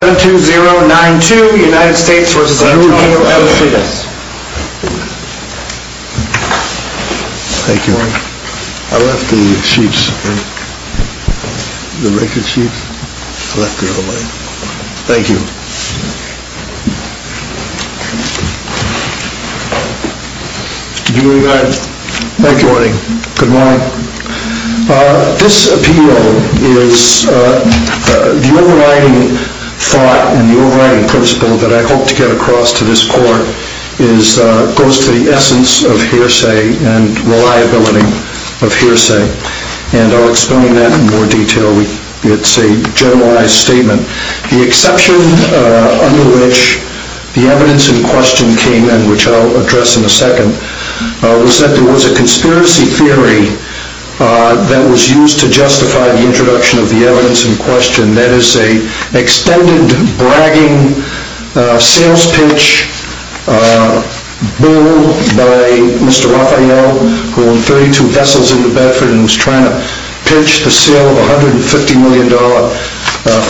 Thank you. I left the sheets, the record sheets, I left it on the way. Thank you. Good morning. This appeal is, the overriding thought and the overriding principle that I hope to get across to this court is, goes to the essence of hearsay and reliability of hearsay. And I'll explain that in more detail. It's a generalized statement. The exception under which the evidence in question came in, which I'll address in a second, was that there was a conspiracy theory that was used to justify the introduction of the evidence in question. That is a extended, bragging, sales pitch, bull by Mr. Raphael, who owned 32 vessels in the Bedford and was trying to pitch the sale of a $150 million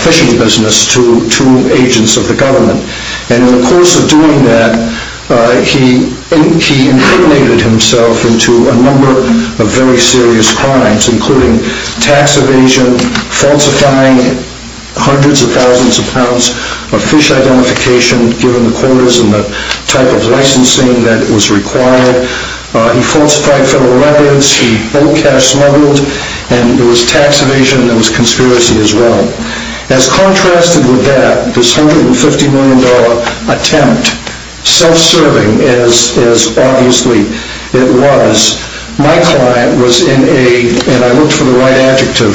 fishing business to agents of the government. And in the course of doing that, he incriminated himself into a number of very serious crimes, including tax evasion, falsifying hundreds of thousands of pounds of fish identification, given the quotas and the type of licensing that was required. He falsified federal records, he owed cash smuggled, and there was tax evasion and there was conspiracy as well. As contrasted with that, this $150 million attempt, self-serving as obviously it was, my client was in a, and I looked for the right adjective,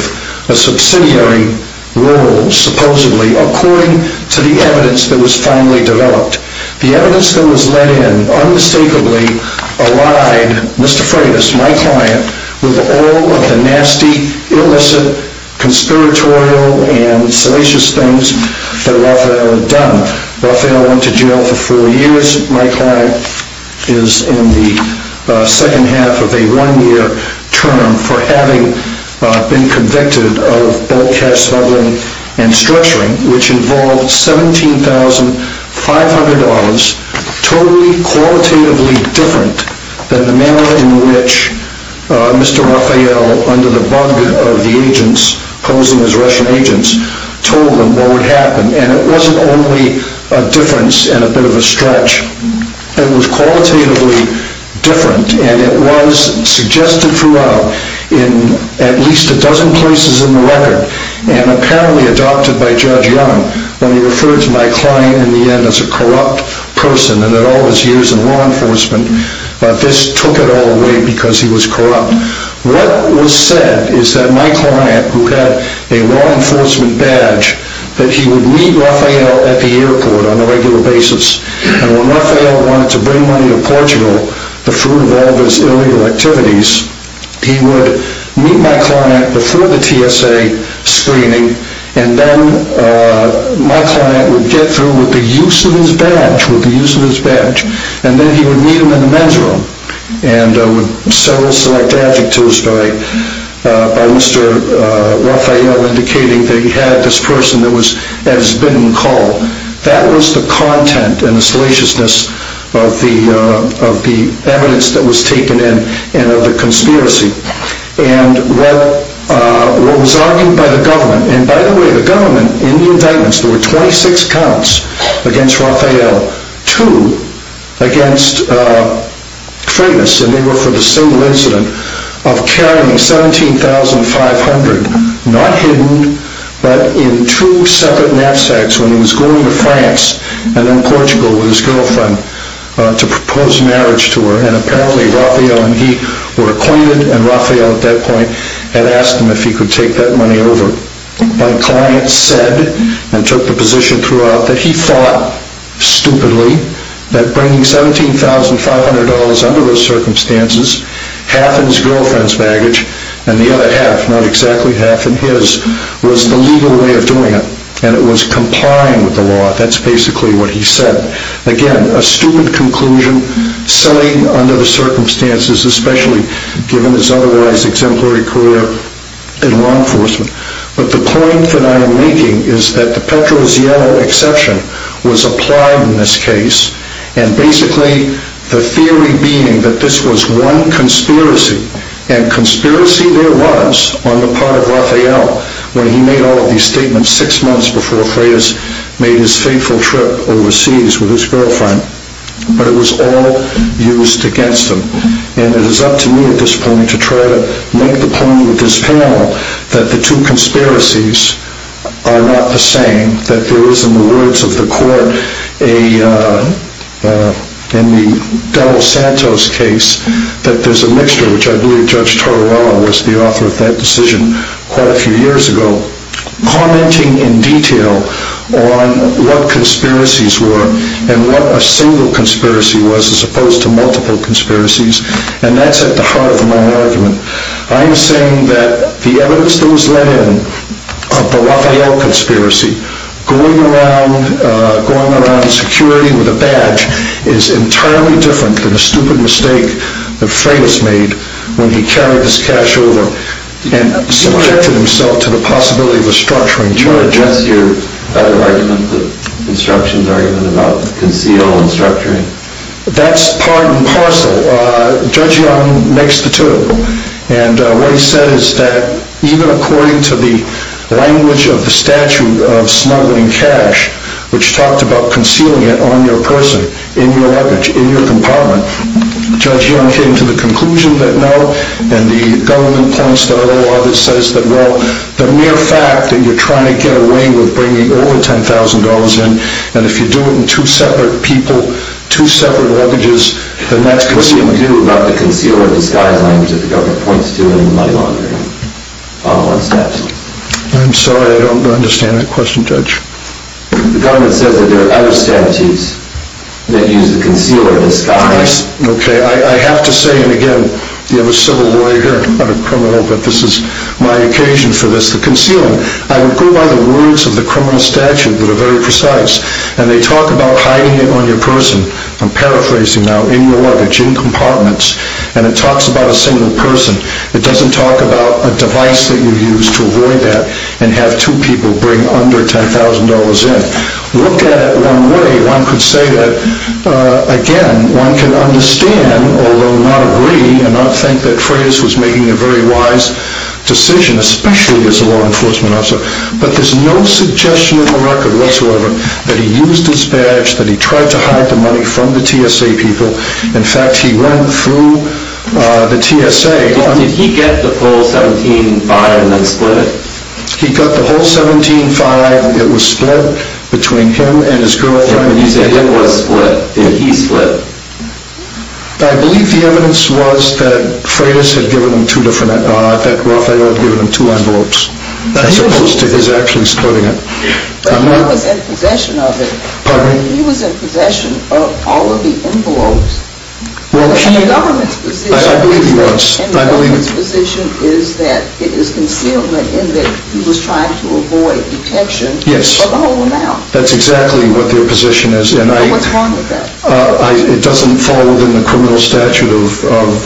a subsidiary role, supposedly, according to the evidence that was finally developed. The evidence that was led in unmistakably allied Mr. Freitas, my client, with all of the nasty, illicit, conspiratorial, and salacious things that Raphael had done. Raphael went to jail for four years. My client is in the second half of a one-year term for having been convicted of bulk cash smuggling and structuring, which involved $17,500, totally qualitatively different than the manner in which Mr. Raphael, under the bug of the agents posing as Russian agents, told them what would happen. And it wasn't only a difference and a bit of a stretch, it was qualitatively different, and it was suggested throughout in at least a dozen places in the record, and apparently adopted by Judge Young when he referred to my client in the end as a corrupt person and that all his years in law enforcement, this took it all away because he was corrupt. What was said is that my client, who had a law enforcement badge, that he would meet Raphael at the airport on a regular basis, and when Raphael wanted to bring money to Portugal, the fruit of all of his illegal activities, he would meet my client before the TSA screening, and then my client would get through with the use of his badge, with the use of his badge, and then he would meet him in the men's room, and with several select adjectives by Mr. Raphael indicating that he had this person that was as been called. That was the content and the salaciousness of the evidence that was taken in, and of the conspiracy. And what was argued by the government, and by the way, the government, in the indictments, there were 26 counts against Raphael, two against Freitas, and they were for the single incident of carrying 17,500, not hidden, but in two separate knapsacks when he was going to France and then Portugal with his girlfriend to propose marriage to her, and apparently Raphael and he were acquainted, and Raphael at that point had asked him if he could take that money over. My client said, and took the position throughout, that he thought, stupidly, that bringing 17,500 dollars under those circumstances, half in his girlfriend's baggage, and the other half, not exactly half in his, was the legal way of doing it, and it was complying with the law. That's basically what he said. Again, a stupid conclusion, selling under the circumstances, especially given his otherwise exemplary career in law enforcement. But the point that I am making is that the Petrozello exception was applied in this case, and basically the theory being that this was one conspiracy, and conspiracy there was on the part of Raphael when he made all of these statements six months before Freitas made his fateful trip overseas with his girlfriend, but it was all used against him, and it is up to me at this point to try to make the point with this panel that the two conspiracies are not the same, that there is, in the words of the court, in the Donald Santos case, that there's a mixture, which I believe Judge Torrella was the author of that decision quite a few years ago, commenting in detail on what conspiracies were, and what a single conspiracy was, as opposed to multiple conspiracies, and that's at the heart of my argument. I am saying that the evidence that was let in of the Raphael conspiracy, going around security with a badge, is entirely different than a stupid mistake that Freitas made when he carried his cash over and subjected himself to the possibility of a structuring charge. Can you address your other argument, the instructions argument about conceal and structuring? That's part and parcel. Judge Young makes the two, and what he said is that even according to the language of the statute of smuggling cash, which talked about concealing it on your person, in your luggage, in your compartment, Judge Young came to the conclusion that no, the mere fact that you're trying to get away with bringing over $10,000 in, and if you do it in two separate people, two separate luggages, then that's concealing. What do you do about the conceal or disguise language that the government points to in the money laundering? Follow on steps. I'm sorry, I don't understand that question, Judge. The government says that there are other statutes that use the conceal or disguise. I have to say, and again, you have a civil lawyer here, not a criminal, but this is my occasion for this, the concealing. I would go by the words of the criminal statute that are very precise, and they talk about hiding it on your person. I'm paraphrasing now, in your luggage, in compartments, and it talks about a single person. It doesn't talk about a device that you use to avoid that and have two people bring under $10,000 in. Look at it one way. One could say that, again, one can understand, although not agree and not think that Freitas was making a very wise decision, especially as a law enforcement officer, but there's no suggestion in the record whatsoever that he used his badge, that he tried to hide the money from the TSA people. In fact, he went through the TSA. Did he get the whole $17,500 and then split it? He got the whole $17,500. It was split between him and his girlfriend. He said it was split. He split. I believe the evidence was that Freitas had given him two different, that Rafael had given him two envelopes, as opposed to his actually splitting it. But he was in possession of it. Pardon me? He was in possession of all of the envelopes. Well, he... And the government's position... I believe he was. And the government's position is that it is concealment in that he was trying to avoid detection of the whole amount. That's exactly what their position is. What's wrong with that? It doesn't fall within the criminal statute of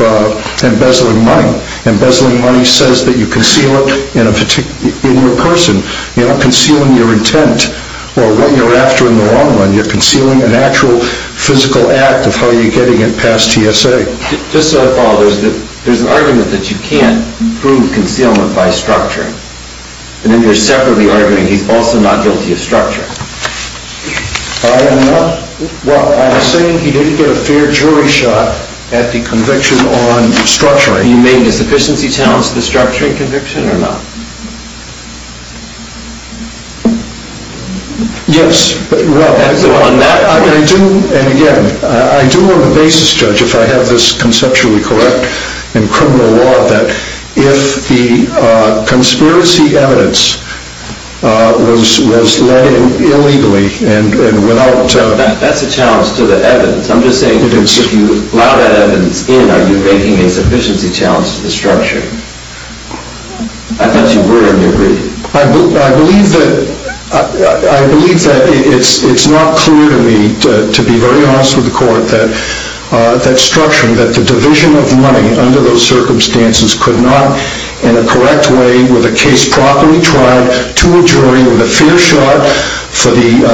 embezzling money. Embezzling money says that you conceal it in your person. You're not concealing your intent or what you're after in the long run. You're concealing an actual physical act of how you're getting it past TSA. Just so I follow, there's an argument that you can't prove concealment by structuring. And then you're separately arguing he's also not guilty of structuring. I am not. Well, I'm saying he didn't get a fair jury shot at the conviction on structuring. He made a sufficiency challenge to the structuring conviction or not? Yes. And again, I do want a basis, Judge, if I have this conceptually correct in criminal law, that if the conspiracy evidence was led illegally and without... That's a challenge to the evidence. I'm just saying if you allow that evidence in, are you making a sufficiency challenge to the structuring? I thought you were and you agreed. I believe that it's not clear to me, to be very honest with the court, that structuring, that the division of money under those circumstances could not, in a correct way, with a case properly trialed, to a jury with a fair shot, for the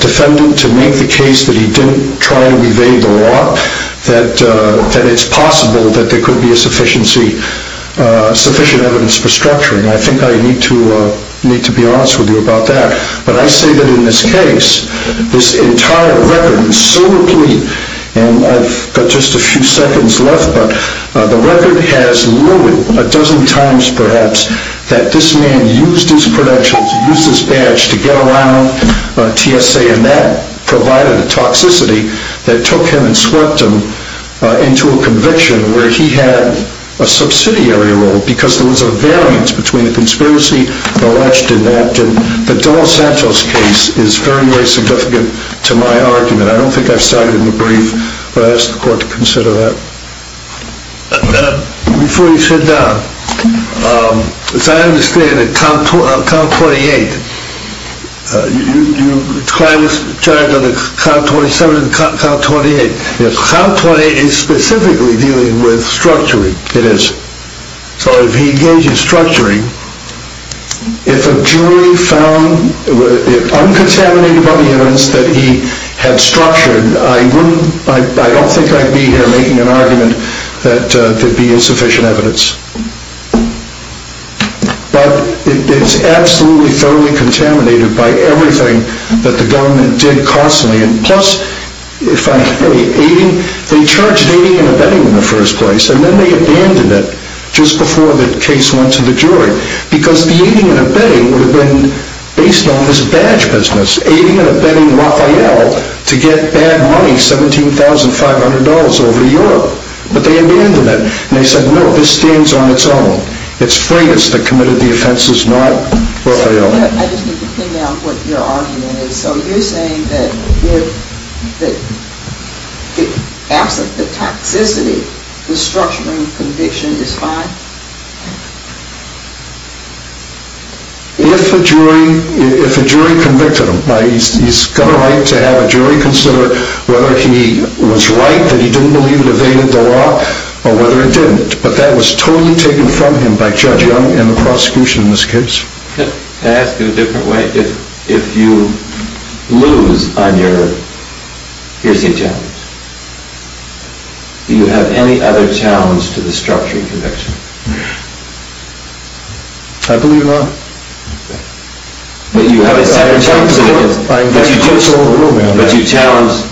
defendant to make the case that he didn't try to evade the law, that it's possible that there could be a sufficient evidence for structuring. I think I need to be honest with you about that. But I say that in this case, this entire record is so complete, and I've got just a few seconds left, but the record has loaded a dozen times, perhaps, that this man used his credentials, used his badge to get around TSA, and that provided a toxicity that took him and swept him into a conviction where he had a subsidiary role because there was a variance between the conspiracy alleged and acted. But Donald Sancho's case is very, very significant to my argument. I don't think I've cited in the brief, but I ask the court to consider that. Before you sit down, as I understand it, count 28, you were charged on the count 27 and the count 28. Yes. Count 28 is specifically dealing with structuring. It is. So if he engages structuring, if a jury found uncontaminated evidence that he had structured, I don't think I'd be here making an argument that there'd be insufficient evidence. But it's absolutely thoroughly contaminated by everything that the government did constantly. Plus, they charged aiding and abetting in the first place, and then they abandoned it just before the case went to the jury because the aiding and abetting would have been based on this badge business, aiding and abetting Raphael to get bad money, $17,500 over Europe. But they abandoned it, and they said, no, this stands on its own. It's Freitas that committed the offenses, not Raphael. I just need to pin down what your argument is. So you're saying that the toxicity, the structuring conviction is fine? If a jury convicted him, he's got a right to have a jury consider whether he was right that he didn't believe it evaded the law or whether it didn't. But that was totally taken from him by Judge Young and the prosecution in this case. Can I ask in a different way? If you lose on your piercing challenge, do you have any other challenge to the structuring conviction? I believe not. But you have a second challenge. I invite the court to overrule me on that. But you challenge,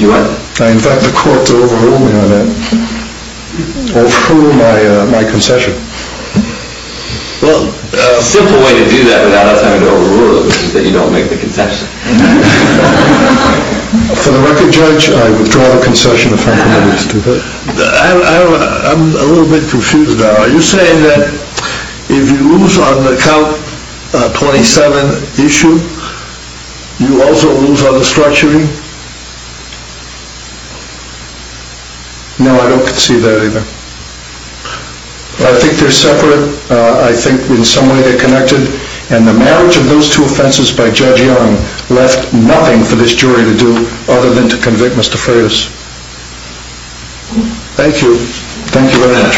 you what? I invite the court to overrule me on that. Overrule my concession. Well, a simple way to do that without us having to overrule it is that you don't make the concession. For the record, Judge, I withdraw the concession if I'm permitted to do that. I'm a little bit confused now. Are you saying that if you lose on the count 27 issue, you also lose on the structuring? No, I don't concede that either. I think they're separate. I think in some way they're connected. And the marriage of those two offenses by Judge Young left nothing for this jury to do other than to convict Mr. Furious. Thank you. Thank you very much.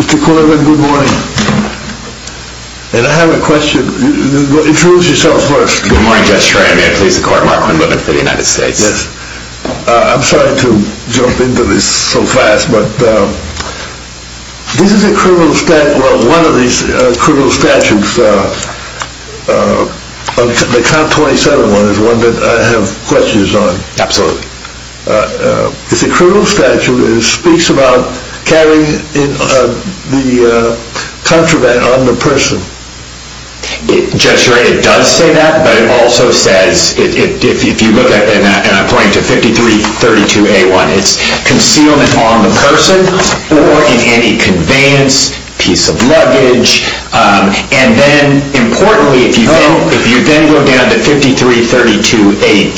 Mr. Corbin, good morning. And I have a question. Introduce yourself first. Good morning, Judge Schramm. May I please the court mark my moment for the United States? Yes. I'm sorry to jump into this so fast, but this is a criminal statute. Well, one of these criminal statutes, the count 27 one, is one that I have questions on. Absolutely. It's a criminal statute. It speaks about carrying the contraband on the person. Judge, you're right. It does say that, but it also says, if you look at it, and I'm pointing to 5332A1, it's concealment on the person or in any conveyance, piece of luggage. And then, importantly, if you then go down to 5332A2,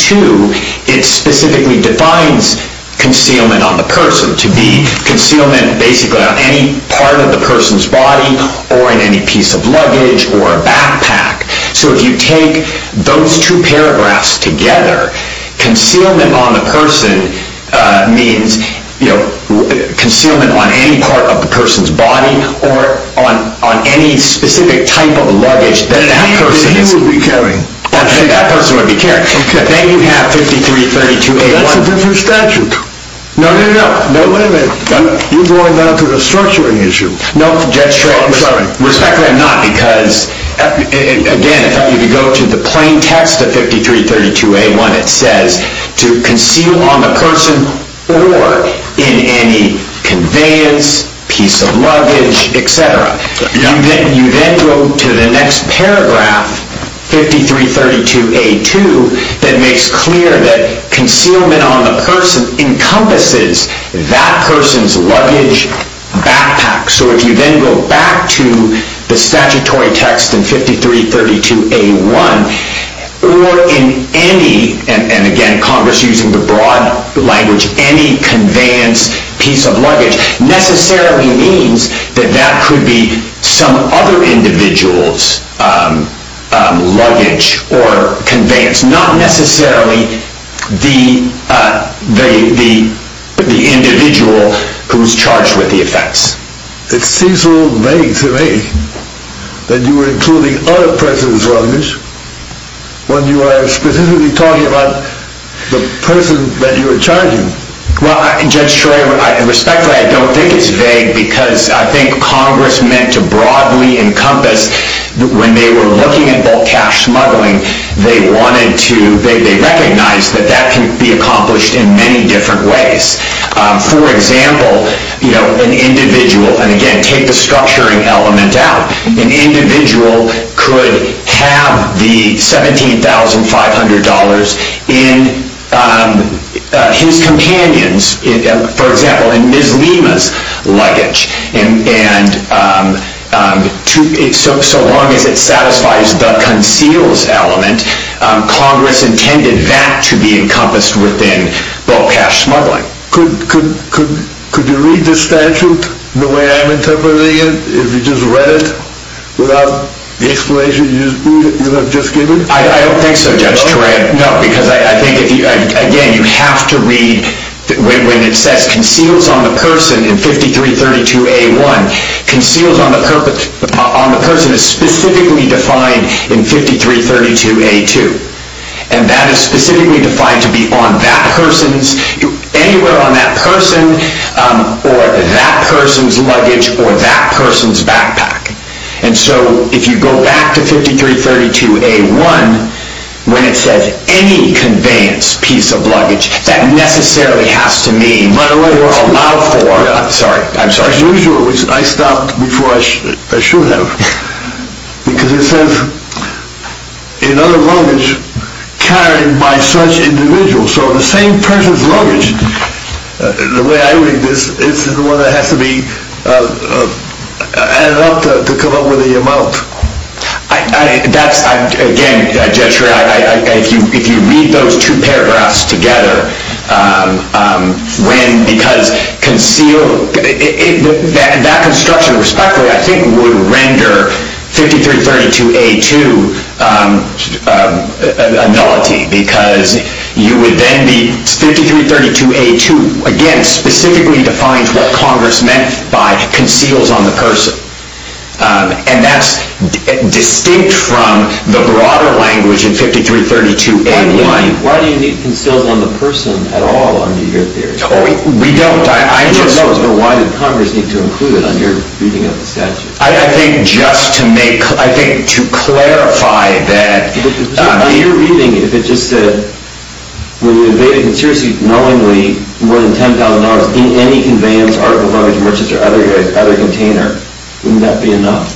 it specifically defines concealment on the person to be concealment basically on any part of the person's body or in any piece of luggage or a backpack. So if you take those two paragraphs together, concealment on the person means, you know, concealment on any part of the person's body or on any specific type of luggage that that person is. He would be carrying. That person would be carrying. But then you have 5332A1. That's a different statute. No, no, no. No, wait a minute. You're going down to the structuring issue. No, Judge Schramm. I'm sorry. Respectfully, I'm not, because, again, if you go to the plain text of 5332A1, it says to conceal on the person or in any conveyance, piece of luggage, et cetera. You then go to the next paragraph, 5332A2, that makes clear that concealment on the person encompasses that person's luggage, backpack. So if you then go back to the statutory text in 5332A1, or in any, and again, Congress using the broad language, any conveyance, piece of luggage, necessarily means that that could be some other individual's luggage or conveyance, not necessarily the individual who's charged with the offense. It seems a little vague to me that you were including other persons' luggage when you were specifically talking about the person that you were charging. Well, Judge Troy, respectfully, I don't think it's vague, because I think Congress meant to broadly encompass, when they were looking at bulk cash smuggling, they wanted to, they recognized that that can be accomplished in many different ways. For example, an individual, and again, take the structuring element out, an individual could have the $17,500 in his companion's, for example, in Ms. Lima's luggage. And so long as it satisfies the conceals element, Congress intended that to be encompassed within bulk cash smuggling. Could you read the statute the way I'm interpreting it, if you just read it, without the explanation you just gave me? I don't think so, Judge Troy, no, because I think, again, you have to read, when it says conceals on the person in 5332A1, conceals on the person is specifically defined in 5332A2. And that is specifically defined to be on that person's, anywhere on that person, or that person's luggage, or that person's backpack. And so, if you go back to 5332A1, when it says any conveyance piece of luggage, that necessarily has to mean, allowed for, I'm sorry, I'm sorry. As usual, I stopped before I should have, because it says, in other luggage, carried by such individuals, so the same person's luggage, the way I read this, is the one that has to be added up to come up with the amount. That's, again, Judge Troy, if you read those two paragraphs together, when, because conceal, that construction, respectively, I think would render 5332A2 a nullity, because you would then be, 5332A2, again, specifically defines what Congress meant by conceals on the person. And that's distinct from the broader language in 5332A1. Why do you need conceals on the person at all under your theory? We don't. I just... Who knows, but why did Congress need to include it on your reading of the statute? I think just to make, I think to clarify that... But your reading, if it just said, when we evaded, and seriously, knowingly, more than $10,000 in any conveyance, article, luggage, merchants, or other container, wouldn't that be enough?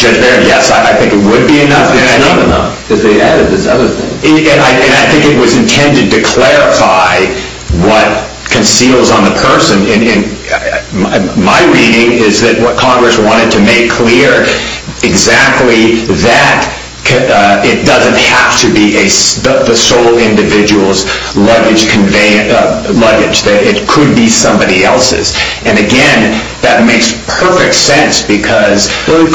Judge Barrett, yes, I think it would be enough. It's not enough, because they added this other thing. And I think it was intended to clarify what conceals on the person. My reading is that what Congress wanted to make clear, exactly, that it doesn't have to be the sole individual's luggage, that it could be somebody else's. And, again, that makes perfect sense, because... Well,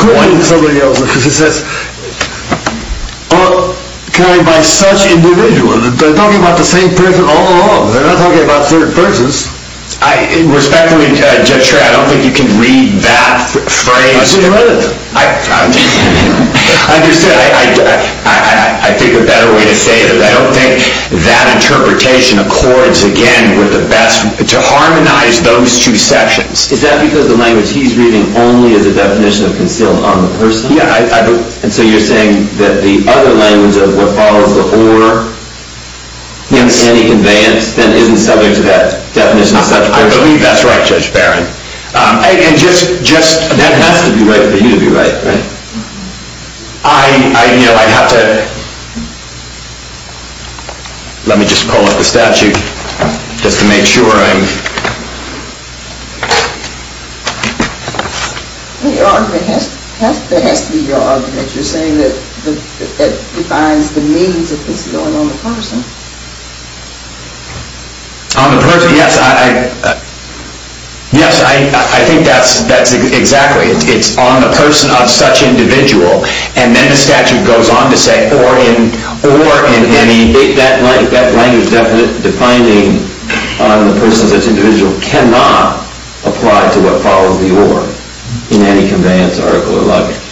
carried by such individuals, they're talking about the same person all along. They're not talking about third persons. Respectfully, Judge Schreyer, I don't think you can read that phrase... I should read it. I understand. I think a better way to say it is I don't think that interpretation accords, again, with the best, to harmonize those two sections. Is that because the language he's reading only is a definition of conceal on the person? Yeah, I believe... And so you're saying that the other language of what follows the or in any conveyance then isn't subject to that definition of such a person? I believe that's right, Judge Barrett. And just... That has to be right for you to be right, right? I, you know, I'd have to... Let me just pull up the statute just to make sure I'm... Well, your argument has to be your argument. You're saying that it defines the means that this is going on the person. On the person, yes, I... Yes, I think that's exactly... It's on the person of such individual, and then the statute goes on to say or in any...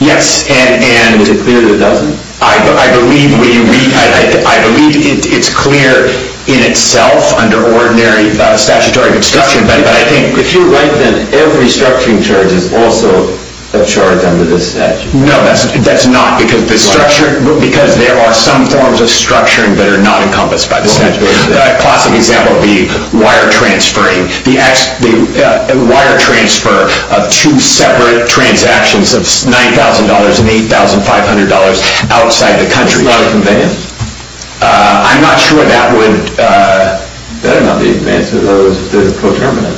Yes, and... Is it clear that it doesn't? I believe we... I believe it's clear in itself under ordinary statutory construction, but I think... If you're right, then every structuring charge is also a charge under this statute. No, that's not because the structure... Because there are some forms of structuring that are not encompassed by the statute. A classic example would be wire transferring. The wire transfer of two separate transactions of $9,000 and $8,500 outside the country. Not a convenience. I'm not sure that would... That would not be a convenience if there was a coterminant.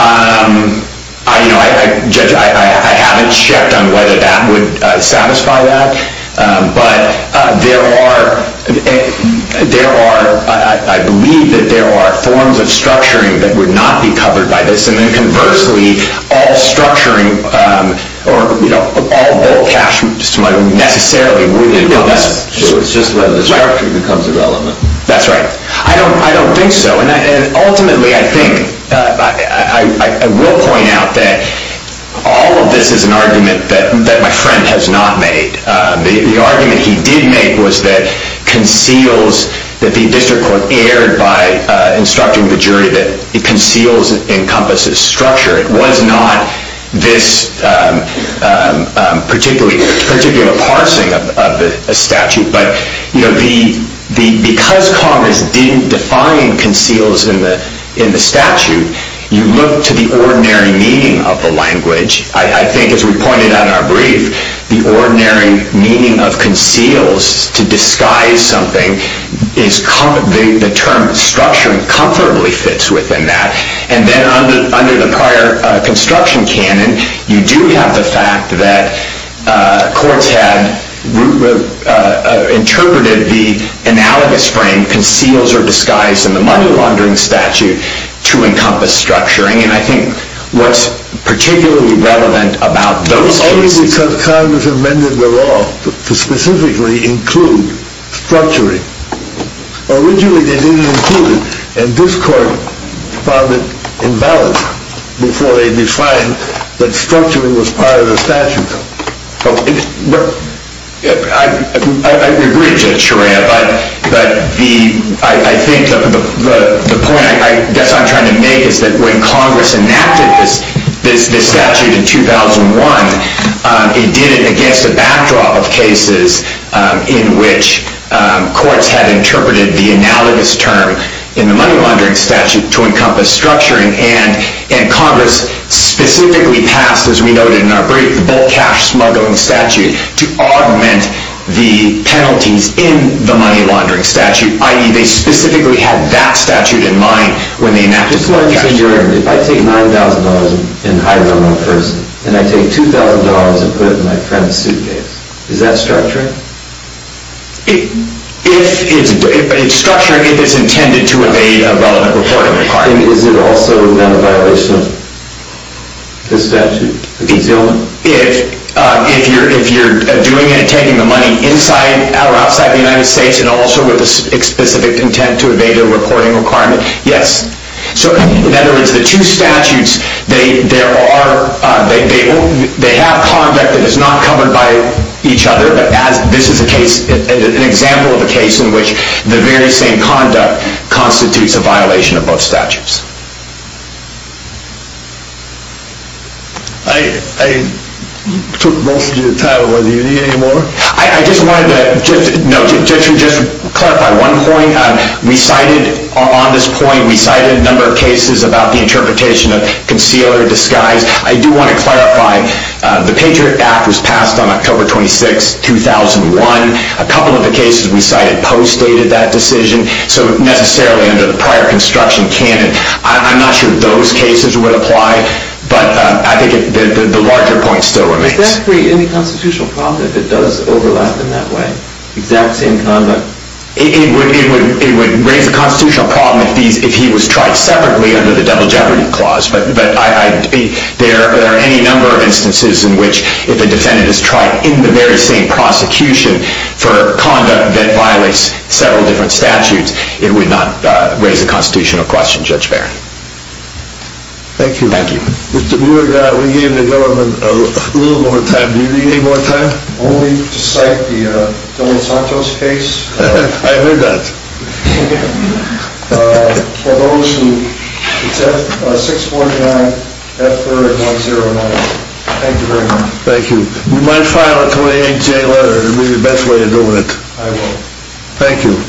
I, you know, I haven't checked on whether that would satisfy that, but there are... There are some forms of structuring that would not be covered by this, and then conversely, all structuring... Or, you know, all the cash necessarily would be... So it's just whether the structure becomes irrelevant. That's right. I don't think so, and ultimately I think... I will point out that all of this is an argument that my friend has not made. The argument he did make was that conceals... That the district court erred by instructing the jury that conceals encompasses structure. It was not this particular parsing of the statute. But, you know, because Congress didn't define conceals in the statute, you look to the ordinary meaning of the language. I think, as we pointed out in our brief, the ordinary meaning of conceals to disguise something is... The term structuring comfortably fits within that. And then under the prior construction canon, you do have the fact that courts had interpreted the analogous frame conceals are disguised in the money laundering statute to encompass structuring. And I think what's particularly relevant about those cases... It was only because Congress amended the law to specifically include structuring. Originally they didn't include it, and this court found it invalid before they defined that structuring was part of the statute. I agree with Judge Sharaia, but I think the point I guess I'm trying to make is that when Congress enacted this statute in 2001, it did it against a backdrop of cases in which courts had interpreted the analogous term in the money laundering statute to encompass structuring. And Congress specifically passed, as we noted in our brief, the bulk cash smuggling statute to augment the penalties in the money laundering statute, i.e. they specifically had that statute in mind when they enacted the bulk cash smuggling statute. Just let me say, if I take $9,000 and hire one more person, and I take $2,000 and put it in my friend's suitcase, is that structuring? It's structuring if it's intended to evade a relevant reporting requirement. And is it also not a violation of this statute? If you're doing it and taking the money inside or outside the United States and also with a specific intent to evade a reporting requirement, yes. So in other words, the two statutes, they have conduct that is not covered by each other, but this is an example of a case in which the very same conduct constitutes a violation of both statutes. I took most of your time. Do you need any more? I just wanted to clarify one point. We cited on this point, we cited a number of cases about the interpretation of concealer disguise. I do want to clarify, the Patriot Act was passed on October 26, 2001. A couple of the cases we cited post-dated that decision, so necessarily under the prior construction canon. I'm not sure those cases would apply, but I think the larger point still remains. Does that create any constitutional problem if it does overlap in that way, exact same conduct? It would raise a constitutional problem if he was tried separately under the double jeopardy clause. But there are any number of instances in which if a defendant is tried in the very same prosecution for conduct that violates several different statutes, it would not raise a constitutional question, Judge Barron. Thank you. Thank you. Mr. Muir, we gave the government a little more time. Do you need any more time? Only to cite the Dela Sancho's case. I heard that. For those who, it's F649, F30109. Thank you very much. Thank you. You might file a 28 day letter. It would be the best way of doing it. I will. Thank you.